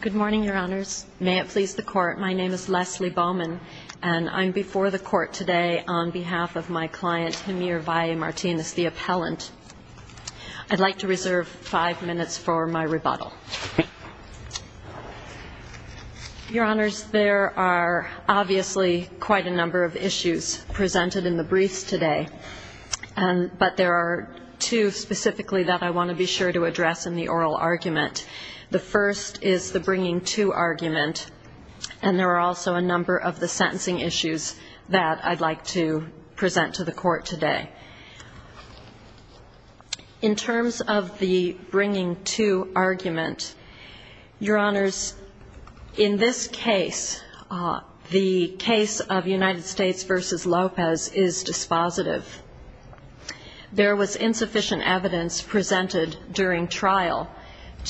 Good morning, Your Honors. May it please the Court, my name is Leslie Bowman, and I'm before the Court today on behalf of my client, Jamir Valle Martinez, the appellant. I'd like to reserve five minutes for my rebuttal. Your Honors, there are obviously quite a number of issues presented in the briefs today, but there are two specifically that I want to be sure to address in the oral argument. The first is the bringing to argument, and there are also a number of the sentencing issues that I'd like to present to the Court today. In terms of the bringing to argument, Your Honors, in this case, the case of United States v. Lopez is dispositive. There was insufficient evidence presented during trial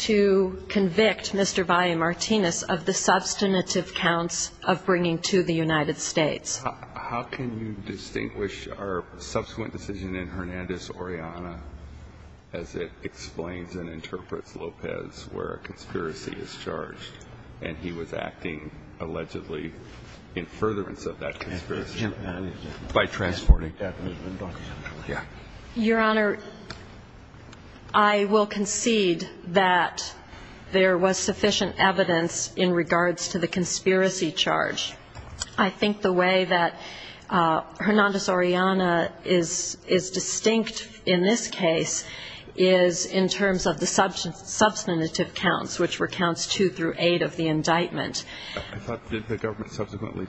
to convict Mr. Valle Martinez of the substantive counts of bringing to the United States. How can you distinguish our subsequent decision in Hernandez-Oriana as it explains and interprets Lopez where a conspiracy is charged, and he was acting allegedly in furtherance of that conspiracy by transporting that movement? Your Honor, I will concede that there was sufficient evidence in regards to the conspiracy charge. I think the way that Hernandez-Oriana is distinct in this case is in terms of the substantive counts, which were counts two through eight of the indictment. Didn't the government subsequently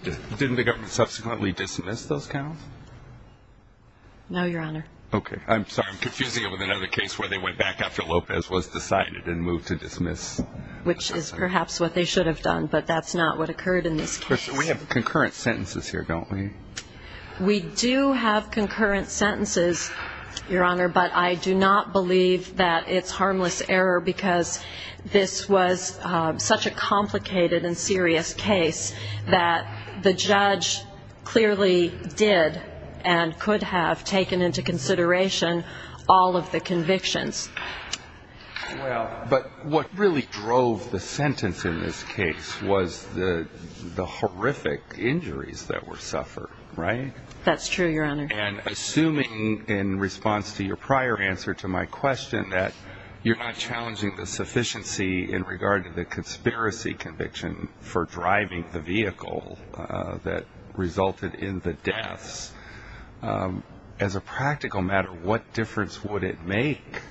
dismiss those counts? No, Your Honor. Okay. I'm sorry. I'm confusing it with another case where they went back after Lopez was decided and moved to dismiss. Which is perhaps what they should have done, but that's not what occurred in this case. We have concurrent sentences here, don't we? We do have concurrent sentences, Your Honor, but I do not believe that it's harmless error because this was such a complicated and serious case that the judge clearly did and could have taken into consideration all of the convictions. Well, but what really drove the sentence in this case was the horrific injuries that were suffered, right? That's true, Your Honor. And assuming in response to your prior answer to my question that you're not challenging the sufficiency in regard to the conspiracy conviction for driving the vehicle that resulted in the deaths, as a practical matter, what difference would it make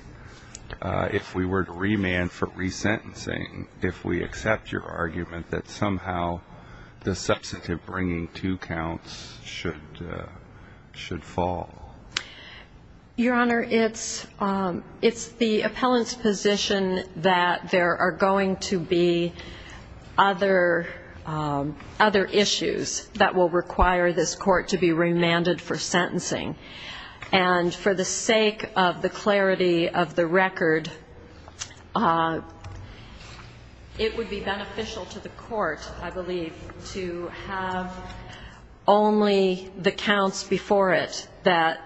if we were to remand for resentencing if we accept your argument that somehow the substantive bringing two counts should fall? Your Honor, it's the appellant's position that there are going to be other issues that will require this court to be remanded for sentencing. And for the sake of the clarity of the record, it would be beneficial to the court, I believe, to have only the counts before it that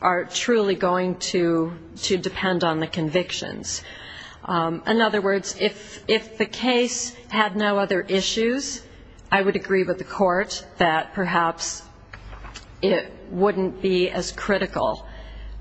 are truly going to depend on the convictions. In other words, if the case had no other issues, I would agree with the court that perhaps it wouldn't be as critical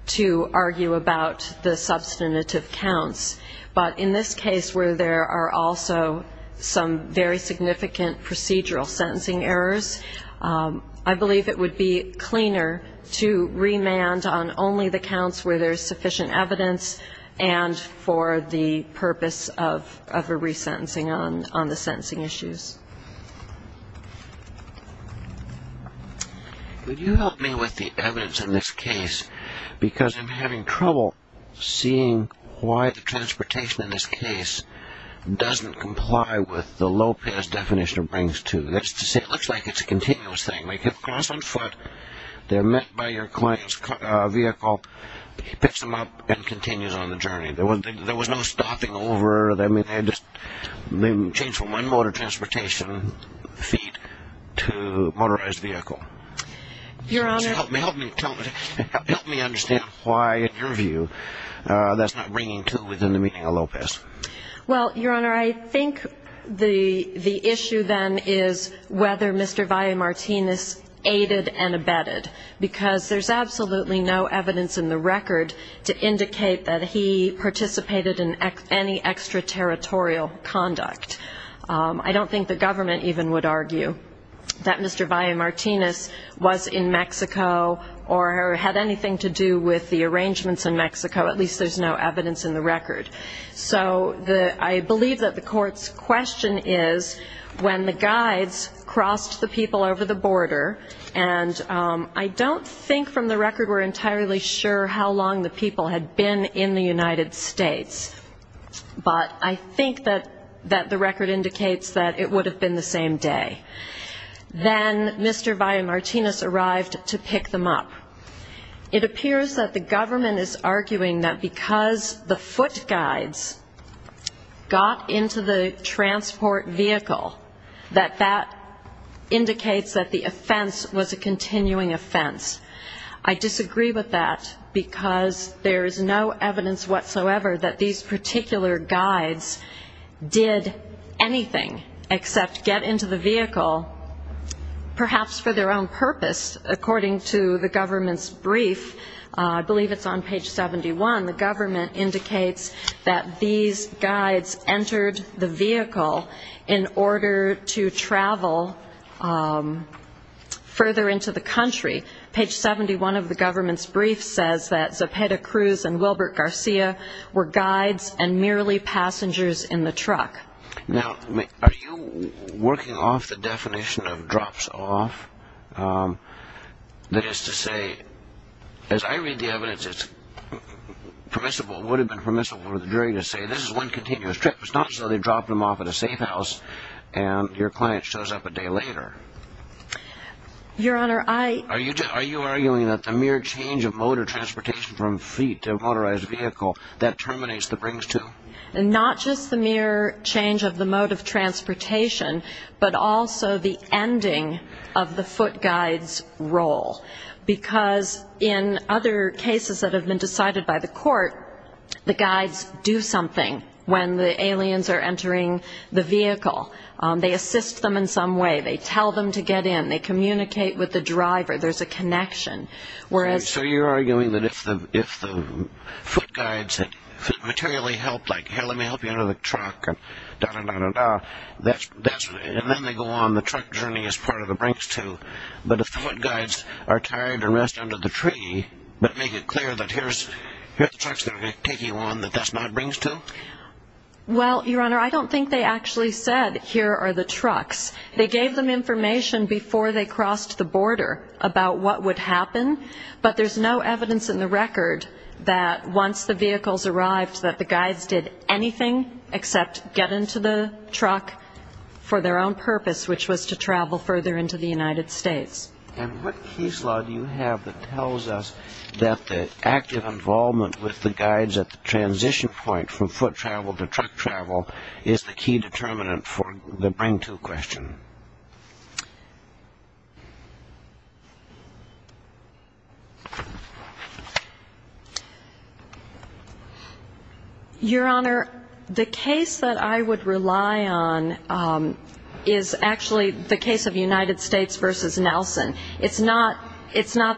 to argue about the substantive counts. But in this case where there are also some very significant procedural sentencing errors, I believe it would be cleaner to remand on only the counts where there's sufficient evidence and for the purpose of a resentencing on the sentencing issues. Could you help me with the evidence in this case? Because I'm having trouble seeing why the transportation in this case doesn't comply with the Lopez definition of brings two. That's to say, it looks like it's a continuous thing. Like, you cross on foot, they're met by your client's vehicle, he picks them up and continues on the journey. There was no stopping over. I mean, they just changed from one mode of transportation, feet, to a motorized vehicle. Help me understand why, in your view, that's not bringing two within the meaning of Lopez. Well, Your Honor, I think the issue then is whether Mr. Valle-Martinez aided and abetted. Because there's absolutely no evidence in the record to indicate that he participated in any extraterritorial conduct. I don't think the government even would argue that Mr. Valle-Martinez was in Mexico or had anything to do with the arrangements in Mexico. At least there's no evidence in the record. So I believe that the court's question is when the guides crossed the people over the border, and I don't think from the record we're entirely sure how long the people had been in the United States. But I think that the record indicates that it would have been the same day. Then Mr. Valle-Martinez arrived to pick them up. It appears that the government is arguing that because the foot guides got into the transport vehicle, that that indicates that the offense was a continuing offense. I disagree with that, because there's no evidence whatsoever that these particular guides did anything except get into the vehicle, perhaps for their own purpose. According to the government's brief, I believe it's on page 71, the government indicates that these guides entered the vehicle in order to travel further into the country. Page 71 of the government's brief says that Zepeda Cruz and Wilbert Garcia were guides and merely passengers in the truck. Now, are you working off the definition of drops off? That is to say, as I read the evidence, it's permissible, would have been permissible for the jury to say this is one continuous trip. It's not as though they dropped them off at a safe house and your client shows up a day later. Your Honor, I... Are you arguing that the mere change of mode of transportation from feet to a motorized vehicle, that terminates the brings to? Not just the mere change of the mode of transportation, but also the ending of the foot guides' role. Because in other cases that have been decided by the court, the guides do something when the aliens are entering the vehicle. They assist them in some way. They tell them to get in. They communicate with the driver. There's a connection. So you're arguing that if the foot guides materially help, like, here, let me help you out of the truck, and da-da-da-da-da, and then they go on the truck journey as part of the brings to. But if the foot guides are tired and rest under the tree, but make it clear that here's the trucks that are going to take you on, that that's not brings to? Well, Your Honor, I don't think they actually said, here are the trucks. They gave them information before they crossed the border about what would happen, but there's no evidence in the record that once the vehicles arrived, that the guides did anything except get into the truck for their own purpose, which was to travel further into the United States. And what case law do you have that tells us that the active involvement with the guides at the transition point from foot travel to truck travel is the key determinant for the bring to question? Your Honor, the case that I would rely on is actually the case of United States v. Nelson. It's not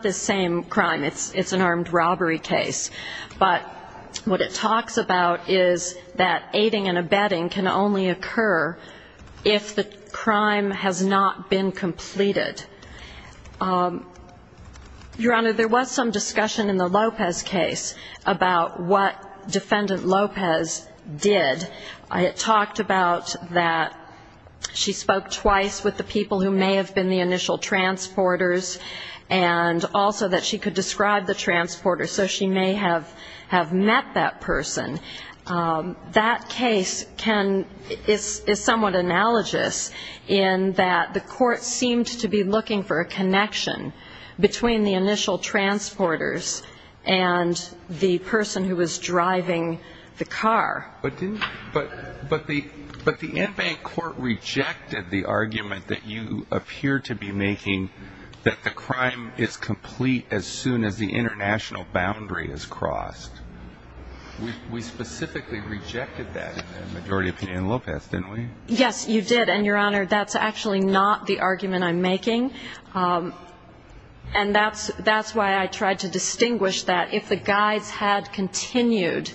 the same crime. It's an armed robbery case. But what it talks about is that aiding and abetting can only occur if the crime is an armed robbery case. If the crime has not been completed. Your Honor, there was some discussion in the Lopez case about what Defendant Lopez did. It talked about that she spoke twice with the people who may have been the initial transporters, and also that she could describe the transporters, so she may have met that person. That case is somewhat analogous in that the court seemed to be looking for a connection between the initial transporters and the person who was driving the car. But the in-bank court rejected the argument that you appear to be making that the crime is complete as soon as the international boundary is crossed. We specifically rejected that in the majority opinion in Lopez, didn't we? Yes, you did, and Your Honor, that's actually not the argument I'm making. And that's why I tried to distinguish that if the guides had continued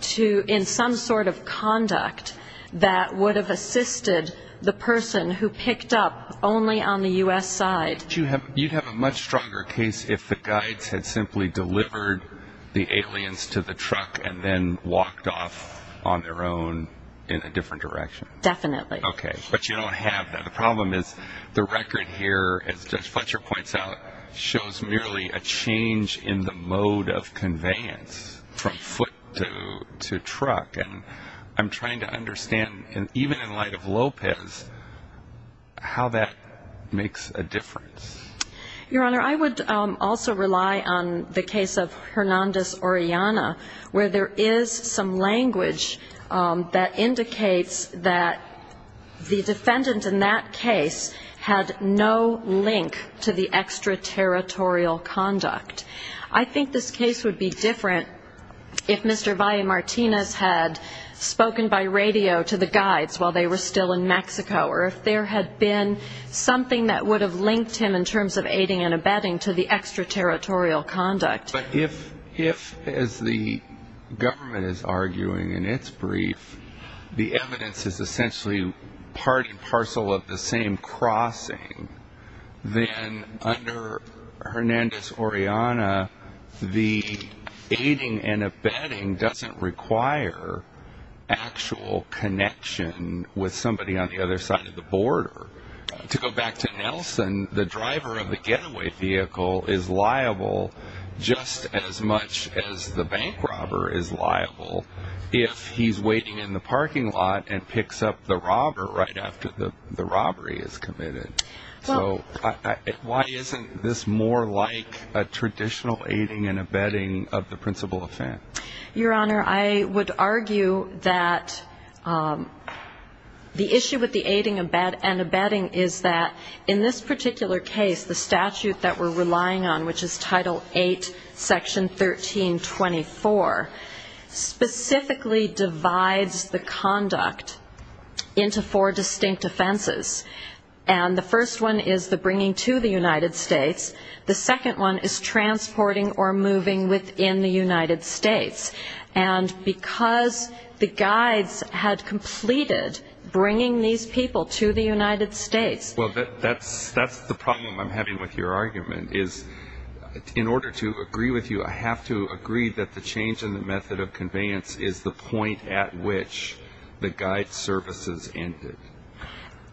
to, in some sort of conduct, that would have assisted the person who picked up only on the U.S. side. But you'd have a much stronger case if the guides had simply delivered the aliens to the truck and then walked off on their own in a different direction. Definitely. Okay, but you don't have that. The problem is the record here, as Judge Fletcher points out, shows merely a change in the mode of conveyance from foot to truck. And I'm trying to understand, even in light of Lopez, how that makes a difference. Your Honor, I would also rely on the case of Hernandez-Orellana, where there is some language that indicates that the defendant in that case had no link to the extra-territorial conduct. I think this case would be different if Mr. Valle-Martinez had spoken by radio to the guides while they were still in Mexico, or if there had been something that would have linked him in terms of aiding and abetting to the extra-territorial conduct. But if, as the government is arguing in its brief, the evidence is essentially part and parcel of the same crossing, then under Hernandez-Orellana, the aiding and abetting doesn't require actual connection with somebody on the other side of the border. To go back to Nelson, the driver of the getaway vehicle is liable just as much as the bank robber is liable if he's waiting in the parking lot and picks up the robber right after the robbery is committed. So why isn't this more like a traditional aiding and abetting of the principal offense? Your Honor, I would argue that the issue with the aiding and abetting is that in this particular case, the statute that we're relying on, which is Title VIII, Section 1324, specifically divides the conduct into four distinct offenses. And the first one is the bringing to the United States. The second one is transporting or moving within the United States. And because the guides had completed bringing these people to the United States... Well, that's the problem I'm having with your argument, is in order to agree with you, I have to agree that the change in the method of conveyance is the point at which the guide services ended.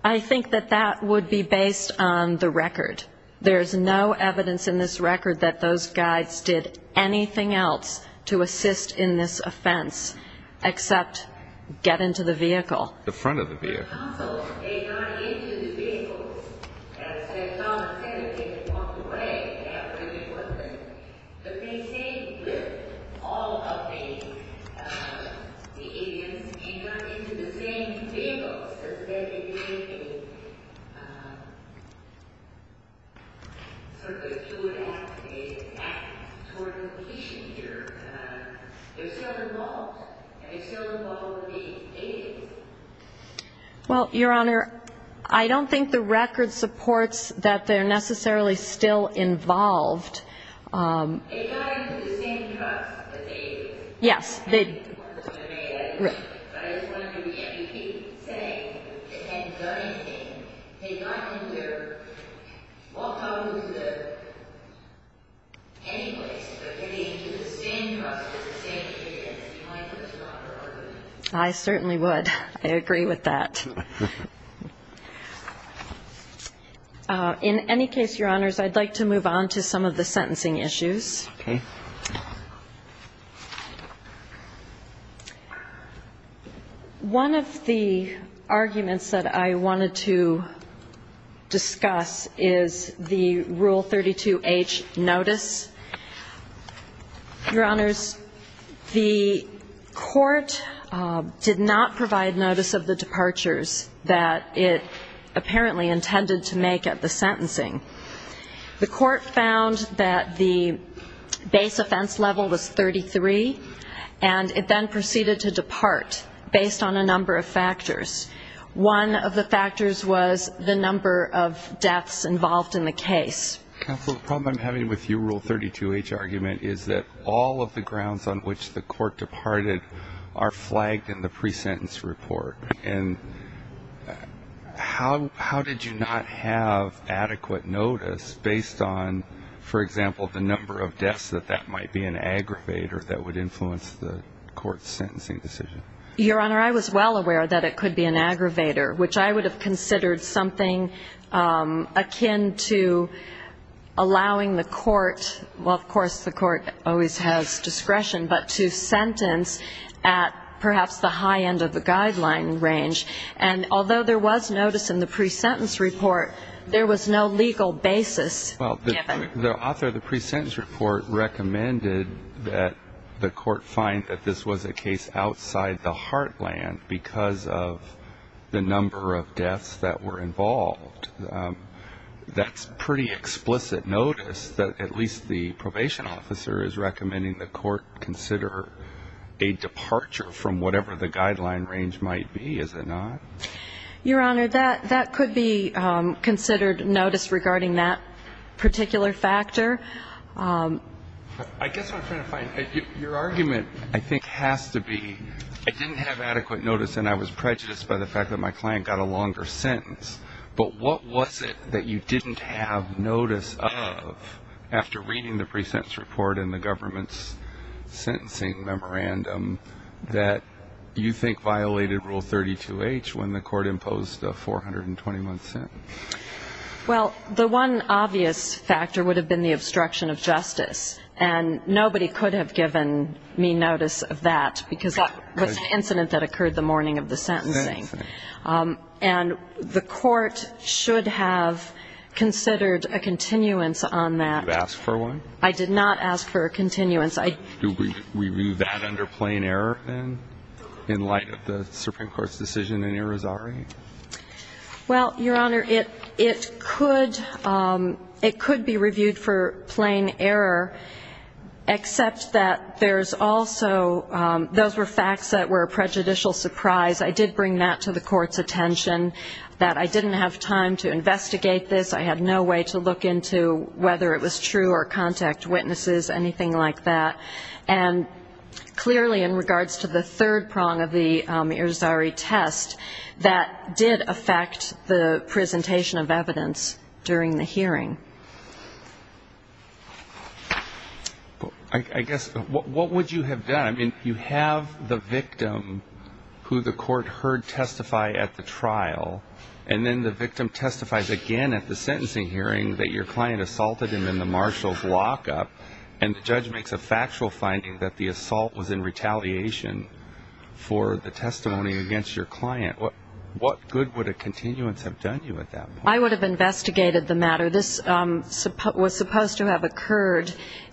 I think that that would be based on the record. There's no evidence in this record that those guides did anything else to assist in this offense except get into the vehicle. The front of the vehicle. I'm just wondering if you would act toward the patient here. They're still involved. They're still involved in the aiding. Well, Your Honor, I don't think the record supports that they're necessarily still involved. They got into the same truck that they aided. But I was wondering if you keep saying they hadn't done anything. They got into their... Anyplace. I certainly would. I agree with that. In any case, Your Honors, I'd like to move on to some of the sentencing issues. One of the arguments that I wanted to discuss is the Rule 32H notice. Your Honors, the court did not provide notice of the departures. That it apparently intended to make at the sentencing. The court found that the base offense level was 33, and it then proceeded to depart based on a number of factors. One of the factors was the number of deaths involved in the case. Counsel, the problem I'm having with your Rule 32H argument is that all of the grounds on which the court departed are flagged in the pre-sentence report. And how did you not have adequate notice based on, for example, the number of deaths that that might be an aggravator that would influence the court's sentencing decision? Your Honor, I was well aware that it could be an aggravator, which I would have considered something akin to allowing the court, well, of course the court always has discretion, but to sentence at perhaps the high end of the guideline, and although there was notice in the pre-sentence report, there was no legal basis given. Well, the author of the pre-sentence report recommended that the court find that this was a case outside the heartland because of the number of deaths that were involved. That's pretty explicit notice that at least the probation officer is recommending the court consider a departure from whatever the guideline range might be. Is it not? Your Honor, that could be considered notice regarding that particular factor. I guess what I'm trying to find, your argument I think has to be, I didn't have adequate notice and I was prejudiced by the fact that my client got a longer sentence, but what was it that you didn't have notice of after reading the pre-sentence report and the government's sentencing memorandum that you think violated Rule 32H when the court imposed a 421th sentence? Well, the one obvious factor would have been the obstruction of justice, and nobody could have given me notice of that because that was an incident that occurred the morning of the sentencing. And the court should have considered a continuance on that. You asked for one? I did not ask for a continuance. Do we view that under plain error in light of the Supreme Court's decision in Irizarry? Well, your Honor, it could be reviewed for plain error, except that there's also, those were facts that were a prejudicial surprise. I did bring that to the court's attention, that I didn't have time to investigate this. I had no way to look into whether it was true or contact witnesses, anything like that. And clearly in regards to the third prong of the Irizarry test, that did affect the presentation of evidence during the hearing. I guess, what would you have done? I mean, you have the victim who the court heard testify at the trial, and then the victim testifies again at the sentencing hearing that your client assaulted him in the marshal's lockup, and the judge makes a factual finding that the assault was in retaliation for the testimony against your client. What good would a continuance have done you at that point? I would have investigated the matter. This was supposed to have occurred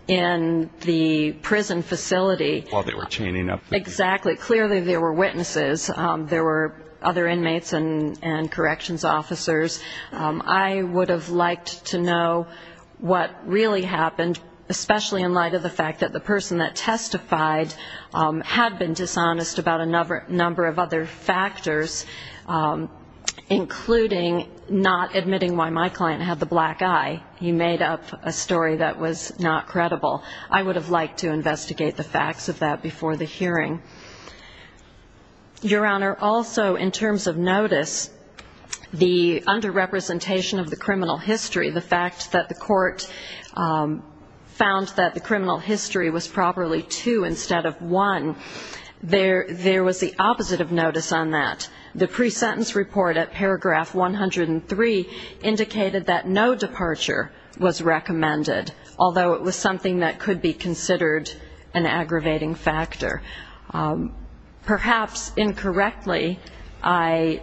in the prison facility. While they were chaining up the people. Exactly. Clearly there were witnesses. There were other inmates and corrections officers. I would have liked to know what really happened, especially in light of the fact that the person that testified had been dishonest about a number of other factors, including not admitting why my client had the black eye. He made up a story that was not credible. I would have liked to investigate the facts of that before the hearing. Your Honor, also in terms of notice, the underrepresentation of the criminal history, the fact that the court found that the criminal history was properly two instead of one, there was the opposite of notice on that. The pre-sentence report at paragraph 103 indicated that no departure was recommended, although it was something that could be considered an aggravating factor. Perhaps incorrectly, I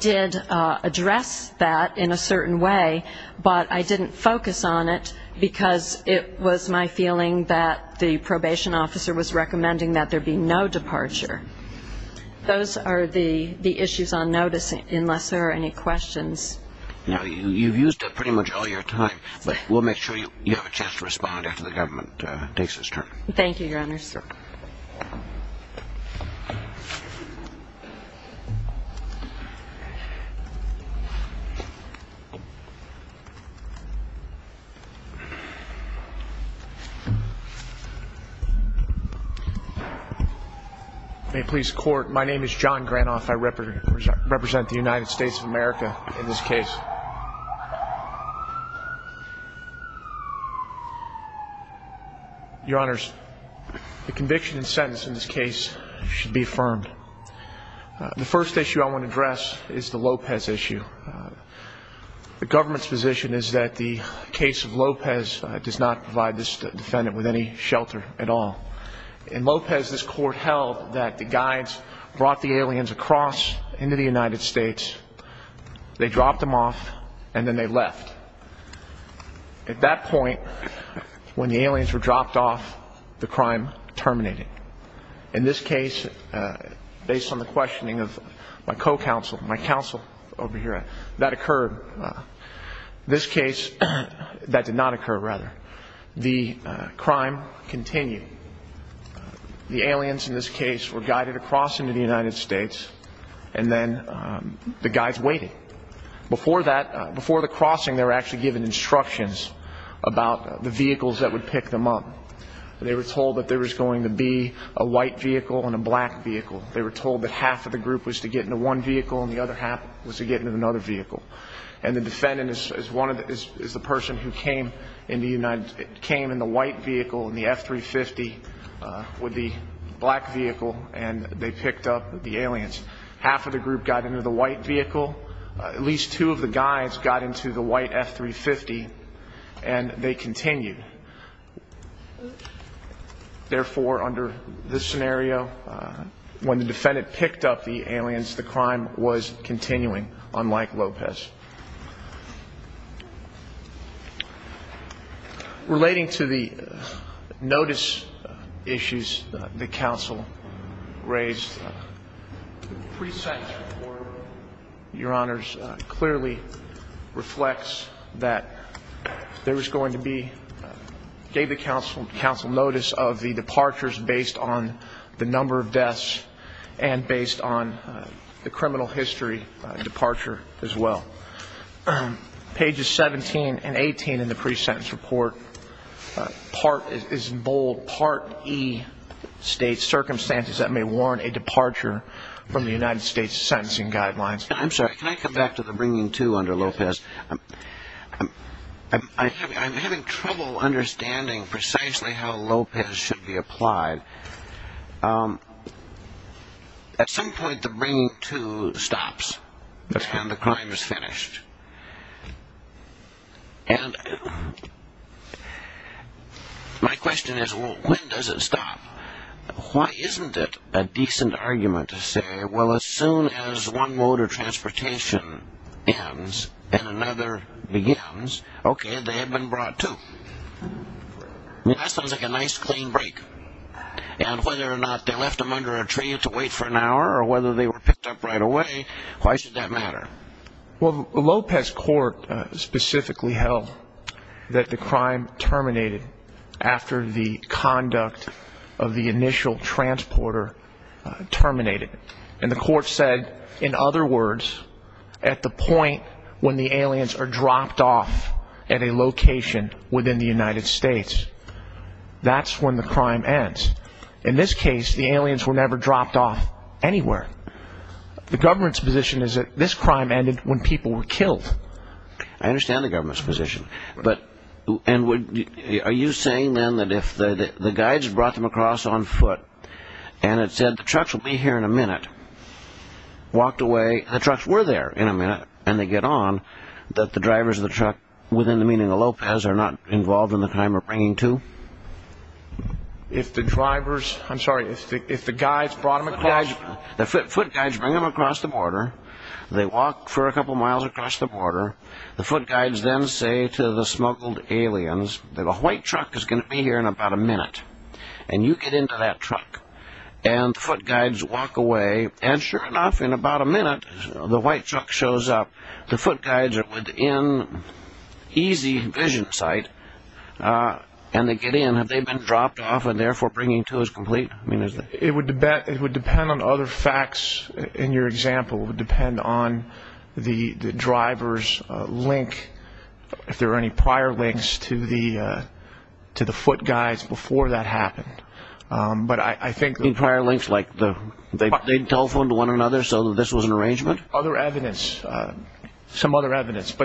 did address that in a certain way, but I didn't focus on it, because it was my feeling that the probation officer was recommending that the person should be released. I would have liked to have known that there would be no departure. Those are the issues on notice, unless there are any questions. Now, you've used it pretty much all your time, but we'll make sure you have a chance to respond after the government takes its turn. Thank you, Your Honor. May it please the Court, my name is John Granoff. I represent the United States of America in this case. Your Honors, the conviction and sentence in this case should be affirmed. The first issue I want to address is the Lopez issue. The government's position is that the case of Lopez does not provide this defendant with any shelter at all. In Lopez, this Court held that the guides brought the aliens across into the United States, they dropped them off, and then they left. At that point, when the aliens were dropped off, the crime terminated. In this case, based on the questioning of my co-counsel, my counsel over here, that occurred. This case, that did not occur, rather. The crime continued. The aliens in this case were guided across into the United States, and then the guides waited. Before that, before the crossing, they were actually given instructions about the vehicles that would pick them up. They were told that there was going to be a white vehicle and a black vehicle. They were told that half of the group was to get into one vehicle and the other half was to get into another vehicle. And the defendant is the person who came in the white vehicle, in the F-350, with the black vehicle, and they picked up the aliens. Half of the group got into the white vehicle, at least two of the guides got into the white F-350, and they continued. Therefore, under this scenario, when the defendant picked up the aliens, the crime was continuing, unlike Lopez. Relating to the notice issues that the counsel raised, the pre-sanction report, Your Honors, clearly reflects that there was going to be, gave the counsel notice of the departures based on the number of deaths and based on the criminal history as well. Pages 17 and 18 in the pre-sentence report is bold, Part E, State Circumstances that May Warrant a Departure from the United States Sentencing Guidelines. I'm sorry, can I come back to the bringing to under Lopez? I'm having trouble understanding precisely how Lopez should be applied. At some point, the bringing to stops, and the crime is finished. And my question is, well, when does it stop? Why isn't it a decent argument to say, well, as soon as one mode of transportation ends and another begins, okay, they have been brought to. That sounds like a nice, clean break. And whether or not they left them under a train to wait for an hour, or whether they were picked up right away, why should that matter? Well, Lopez court specifically held that the crime terminated after the conduct of the initial transporter terminated. And the court said, in other words, at the point when the aliens are dropped off at a location within the United States, that's when the crime ends. In this case, the aliens were never dropped off anywhere. The government's position is that this crime ended when people were killed. I understand the government's position. Are you saying, then, that if the guides brought them across on foot, and it said the trucks will be here in a minute, walked away, and the trucks were there in a minute, and they get on, that the drivers of the truck within the meaning of Lopez are not involved in the crime of bringing to? If the drivers, I'm sorry, if the guides brought them across? The foot guides bring them across the border. The foot guides then say to the smuggled aliens that a white truck is going to be here in about a minute. And you get into that truck. And the foot guides walk away. And sure enough, in about a minute, the white truck shows up. The foot guides are within easy vision sight, and they get in. And have they been dropped off and, therefore, bringing to is complete? It would depend on other facts. In your example, it would depend on the driver's link, if there were any prior links to the foot guides before that happened. In prior links, like they telephoned one another so that this was an arrangement? Other evidence. Some other evidence.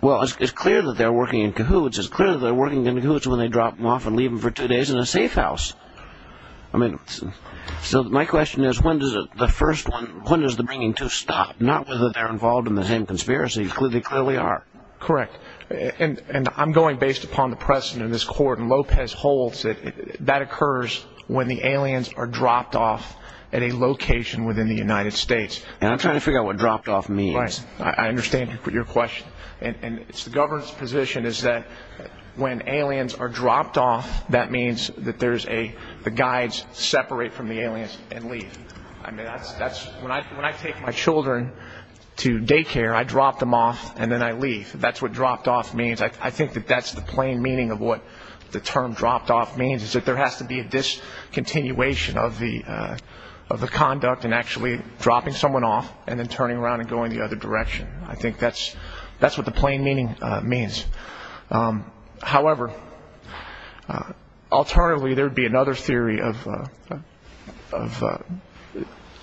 Well, it's clear that they're working in cahoots. It's clear that they're working in cahoots when they drop them off and leave them for two days in a safe house. So my question is, when does the bringing to stop? Not whether they're involved in the same conspiracy. They clearly are. Correct. And I'm going based upon the precedent of this court. And Lopez holds that that occurs when the aliens are dropped off at a location within the United States. And I'm trying to figure out what dropped off means. Right. I understand your question. And the governor's position is that when aliens are dropped off, that means that the guides separate from the aliens and leave. I mean, when I take my children to daycare, I drop them off and then I leave. That's what dropped off means. I think that that's the plain meaning of what the term dropped off means, is that there has to be a discontinuation of the conduct and actually dropping someone off and then turning around and going the other direction. I think that's what the plain meaning means. However, alternatively, there would be another theory of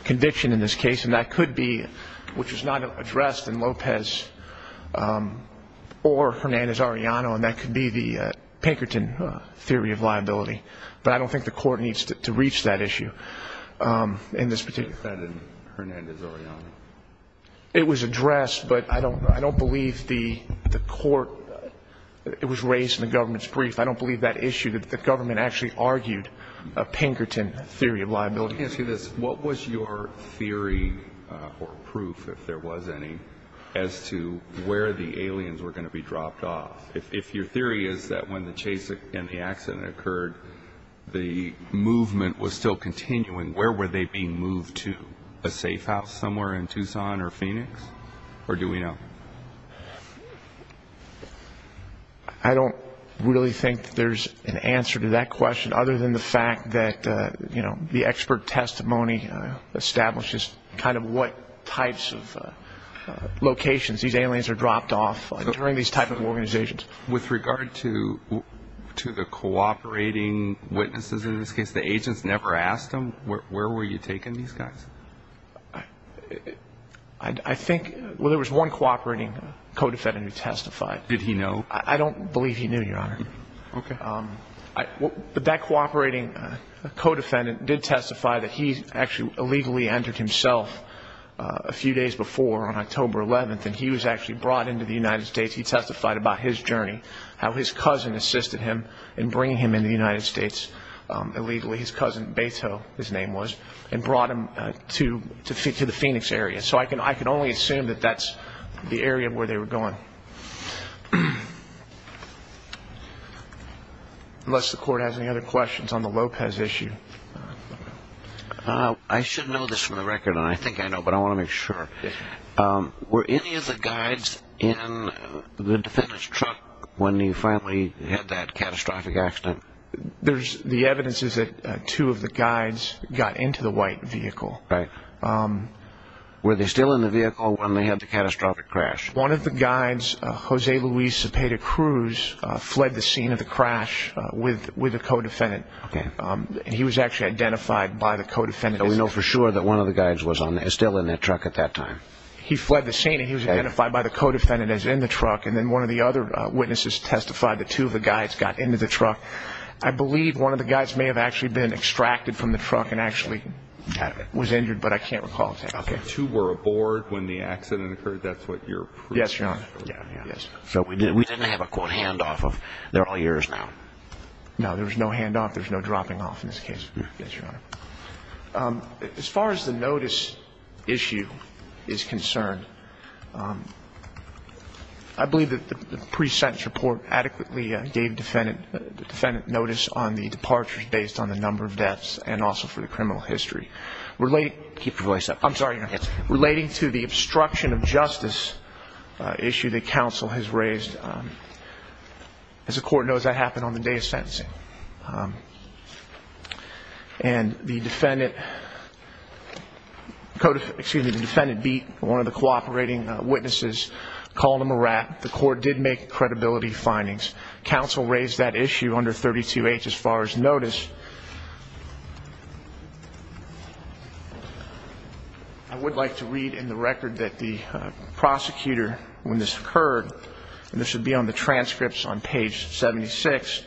conviction in this case, and that could be, which is not addressed in Lopez or Hernandez-Arellano, and that could be the Pinkerton theory of liability. But I don't think the court needs to reach that issue in this particular case. It was addressed, but I don't believe the court, it was raised in the government's brief. I don't believe that issue, that the government actually argued a Pinkerton theory of liability. Let me ask you this. What was your theory or proof, if there was any, as to where the aliens were going to be dropped off? If your theory is that when the chase and the accident occurred, the movement was still continuing, where were they being moved to, a safe house somewhere in Tucson or Phoenix, or do we know? I don't really think that there's an answer to that question, other than the fact that the expert testimony establishes kind of what types of locations these aliens are dropped off during these types of organizations. With regard to the cooperating witnesses in this case, the agents never asked them, where were you taking these guys? I think, well, there was one cooperating co-defendant who testified. Did he know? I don't believe he knew, Your Honor. Okay. But that cooperating co-defendant did testify that he actually illegally entered himself a few days before, on October 11th, and he was actually brought into the United States. He testified about his journey, how his cousin assisted him in bringing him into the United States illegally. His cousin, Beto, his name was, and brought him to the Phoenix area. So I can only assume that that's the area where they were going. Unless the Court has any other questions on the Lopez issue. I should know this for the record, and I think I know, but I want to make sure. Were any of the guides in the defendant's truck when he finally had that catastrophic accident? The evidence is that two of the guides got into the white vehicle. Were they still in the vehicle when they had the catastrophic crash? One of the guides, Jose Luis Cepeda Cruz, fled the scene of the crash with a co-defendant. He was actually identified by the co-defendant. So we know for sure that one of the guides was still in that truck at that time? He fled the scene, and he was identified by the co-defendant as in the truck, and then one of the other witnesses testified that two of the guides got into the truck. I believe one of the guides may have actually been extracted from the truck and actually was injured, but I can't recall exactly. Okay. Two were aboard when the accident occurred? That's what you're presuming? Yes, Your Honor. So we didn't have a, quote, handoff of they're all yours now? No, there was no handoff. There was no dropping off in this case, Your Honor. As far as the notice issue is concerned, I believe that the pre-sentence report adequately gave the defendant notice on the departures based on the number of deaths and also for the criminal history. Keep your voice up. I'm sorry, Your Honor. Relating to the obstruction of justice issue that counsel has raised. As the court knows, that happened on the day of sentencing. And the defendant beat one of the cooperating witnesses, called him a rat. The court did make credibility findings. Counsel raised that issue under 32H as far as notice. I would like to read in the record that the prosecutor, when this occurred, and this would be on the transcripts on page 76.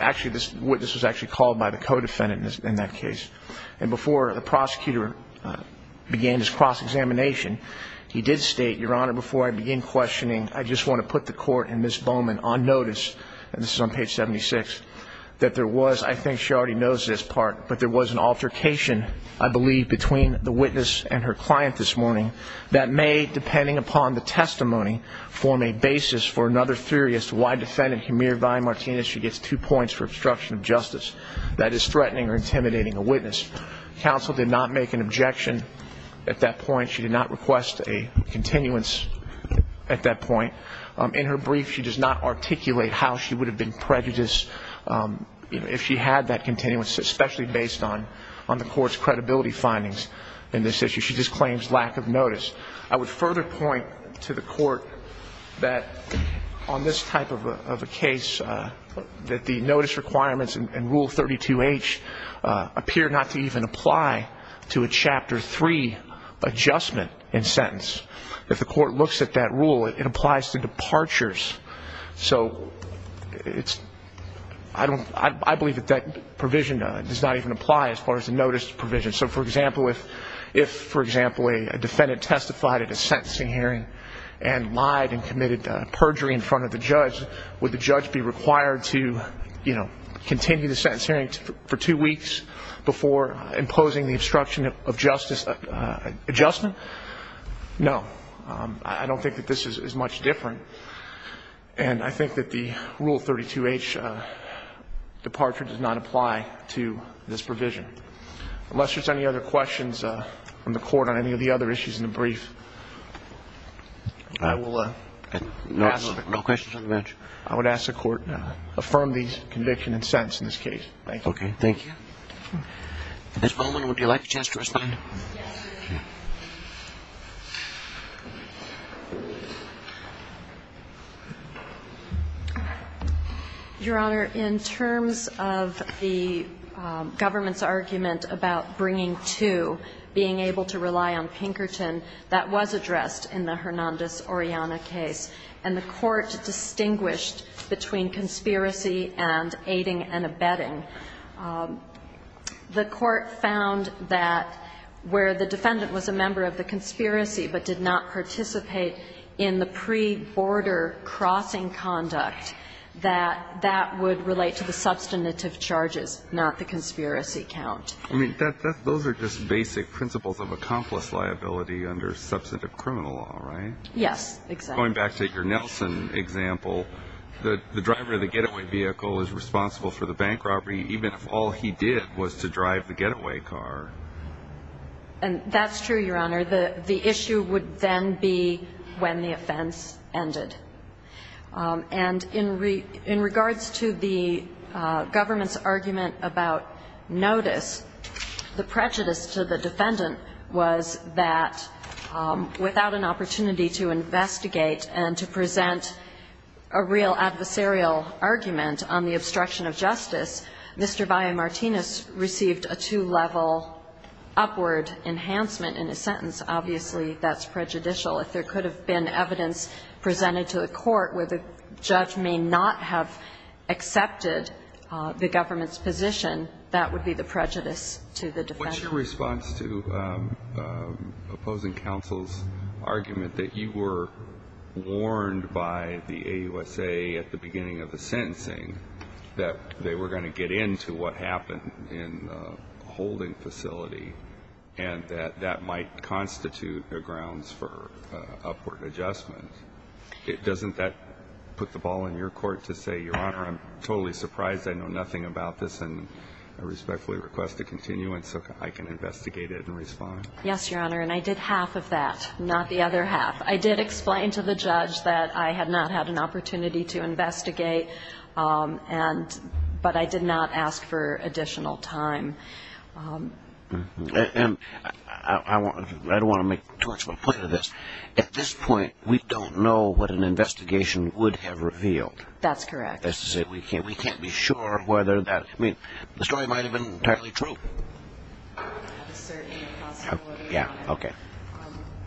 Actually, this witness was actually called by the co-defendant in that case. And before the prosecutor began his cross-examination, he did state, Your Honor, before I begin questioning, I just want to put the court and Ms. Bowman on notice, and this is on page 76, that there was, I think she already knows this part, but there was an altercation, I believe, between the witness and her client this morning that may, depending upon the testimony, form a basis for another theory that is threatening or intimidating a witness. Counsel did not make an objection at that point. She did not request a continuance at that point. In her brief, she does not articulate how she would have been prejudiced if she had that continuance, especially based on the court's credibility findings in this issue. She just claims lack of notice. I would further point to the court that on this type of a case, that the notice requirements in Rule 32H appear not to even apply to a Chapter 3 adjustment in sentence. If the court looks at that rule, it applies to departures. So I believe that that provision does not even apply as far as the notice provision. So, for example, if, for example, a defendant testified at a sentencing hearing and lied and committed perjury in front of the judge, would the judge be required to continue the sentence hearing for two weeks before imposing the obstruction of justice adjustment? No. I don't think that this is much different. And I think that the Rule 32H departure does not apply to this provision. Unless there's any other questions from the court on any of the other issues in the brief, I will ask. No questions on the bench. I would ask the court to affirm the conviction and sentence in this case. Thank you. Okay. Thank you. Ms. Bowman, would you like a chance to respond? Your Honor, in terms of the government's argument about bringing to, being able to rely on Pinkerton, that was addressed in the Hernandez-Oriana case. And the court distinguished between conspiracy and aiding and abetting. The court found that where the defendant was a member of the conspiracy but did not participate in the pre-border crossing conduct, that that would relate to the substantive charges, not the conspiracy count. I mean, those are just basic principles of accomplice liability under substantive criminal law, right? Yes, exactly. Going back to your Nelson example, the driver of the getaway vehicle is responsible for the bank robbery, even if all he did was to drive the getaway car. And that's true, Your Honor. The issue would then be when the offense ended. And in regards to the government's argument about notice, the prejudice to the defendant was that without an opportunity to investigate and to present a real adversarial argument on the obstruction of justice, Mr. Valle-Martinez received a two-level upward enhancement in his sentence. Obviously, that's prejudicial. If there could have been evidence presented to the court where the judge may not have accepted the government's position, that would be the prejudice to the defendant. What's your response to opposing counsel's argument that you were warned by the AUSA at the beginning of the sentencing that they were going to get into what happened in the holding facility and that that might constitute the grounds for upward adjustment? Doesn't that put the ball in your court to say, Your Honor, I'm totally surprised. I know nothing about this, and I respectfully request a continuance. So I can investigate it and respond. Yes, Your Honor, and I did half of that, not the other half. I did explain to the judge that I had not had an opportunity to investigate, but I did not ask for additional time. And I don't want to make too much of a point of this. At this point, we don't know what an investigation would have revealed. That's correct. We can't be sure whether that, I mean, the story might have been entirely true. Yeah, okay.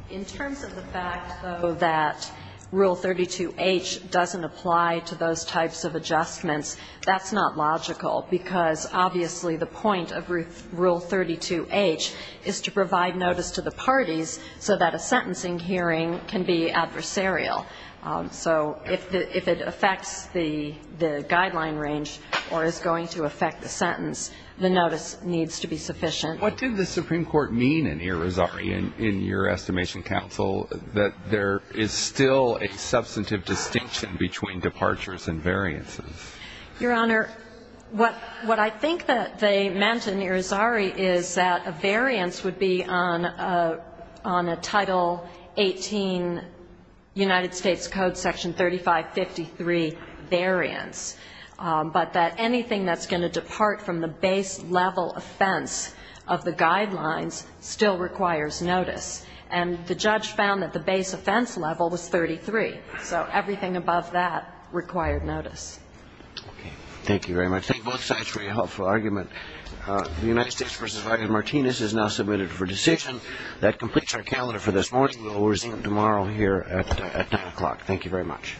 In terms of the fact, though, that Rule 32H doesn't apply to those types of adjustments, that's not logical because, obviously, the point of Rule 32H is to provide notice to the parties so that a sentencing hearing can be adversarial. So if it affects the guideline range or is going to affect the sentence, the notice needs to be sufficient. What did the Supreme Court mean in Irizarry in your estimation, Counsel, that there is still a substantive distinction between departures and variances? Your Honor, what I think that they meant in Irizarry is that a variance would be on a Title 18 United States Code Section 3553 variance, but that anything that's going to depart from the base level offense of the guidelines still requires notice. And the judge found that the base offense level was 33. So everything above that required notice. Okay. Thank you very much. Thank both sides for your helpful argument. The United States v. Vargas-Martinez is now submitted for decision. That completes our calendar for this morning. We will resume tomorrow here at 9 o'clock. Thank you very much.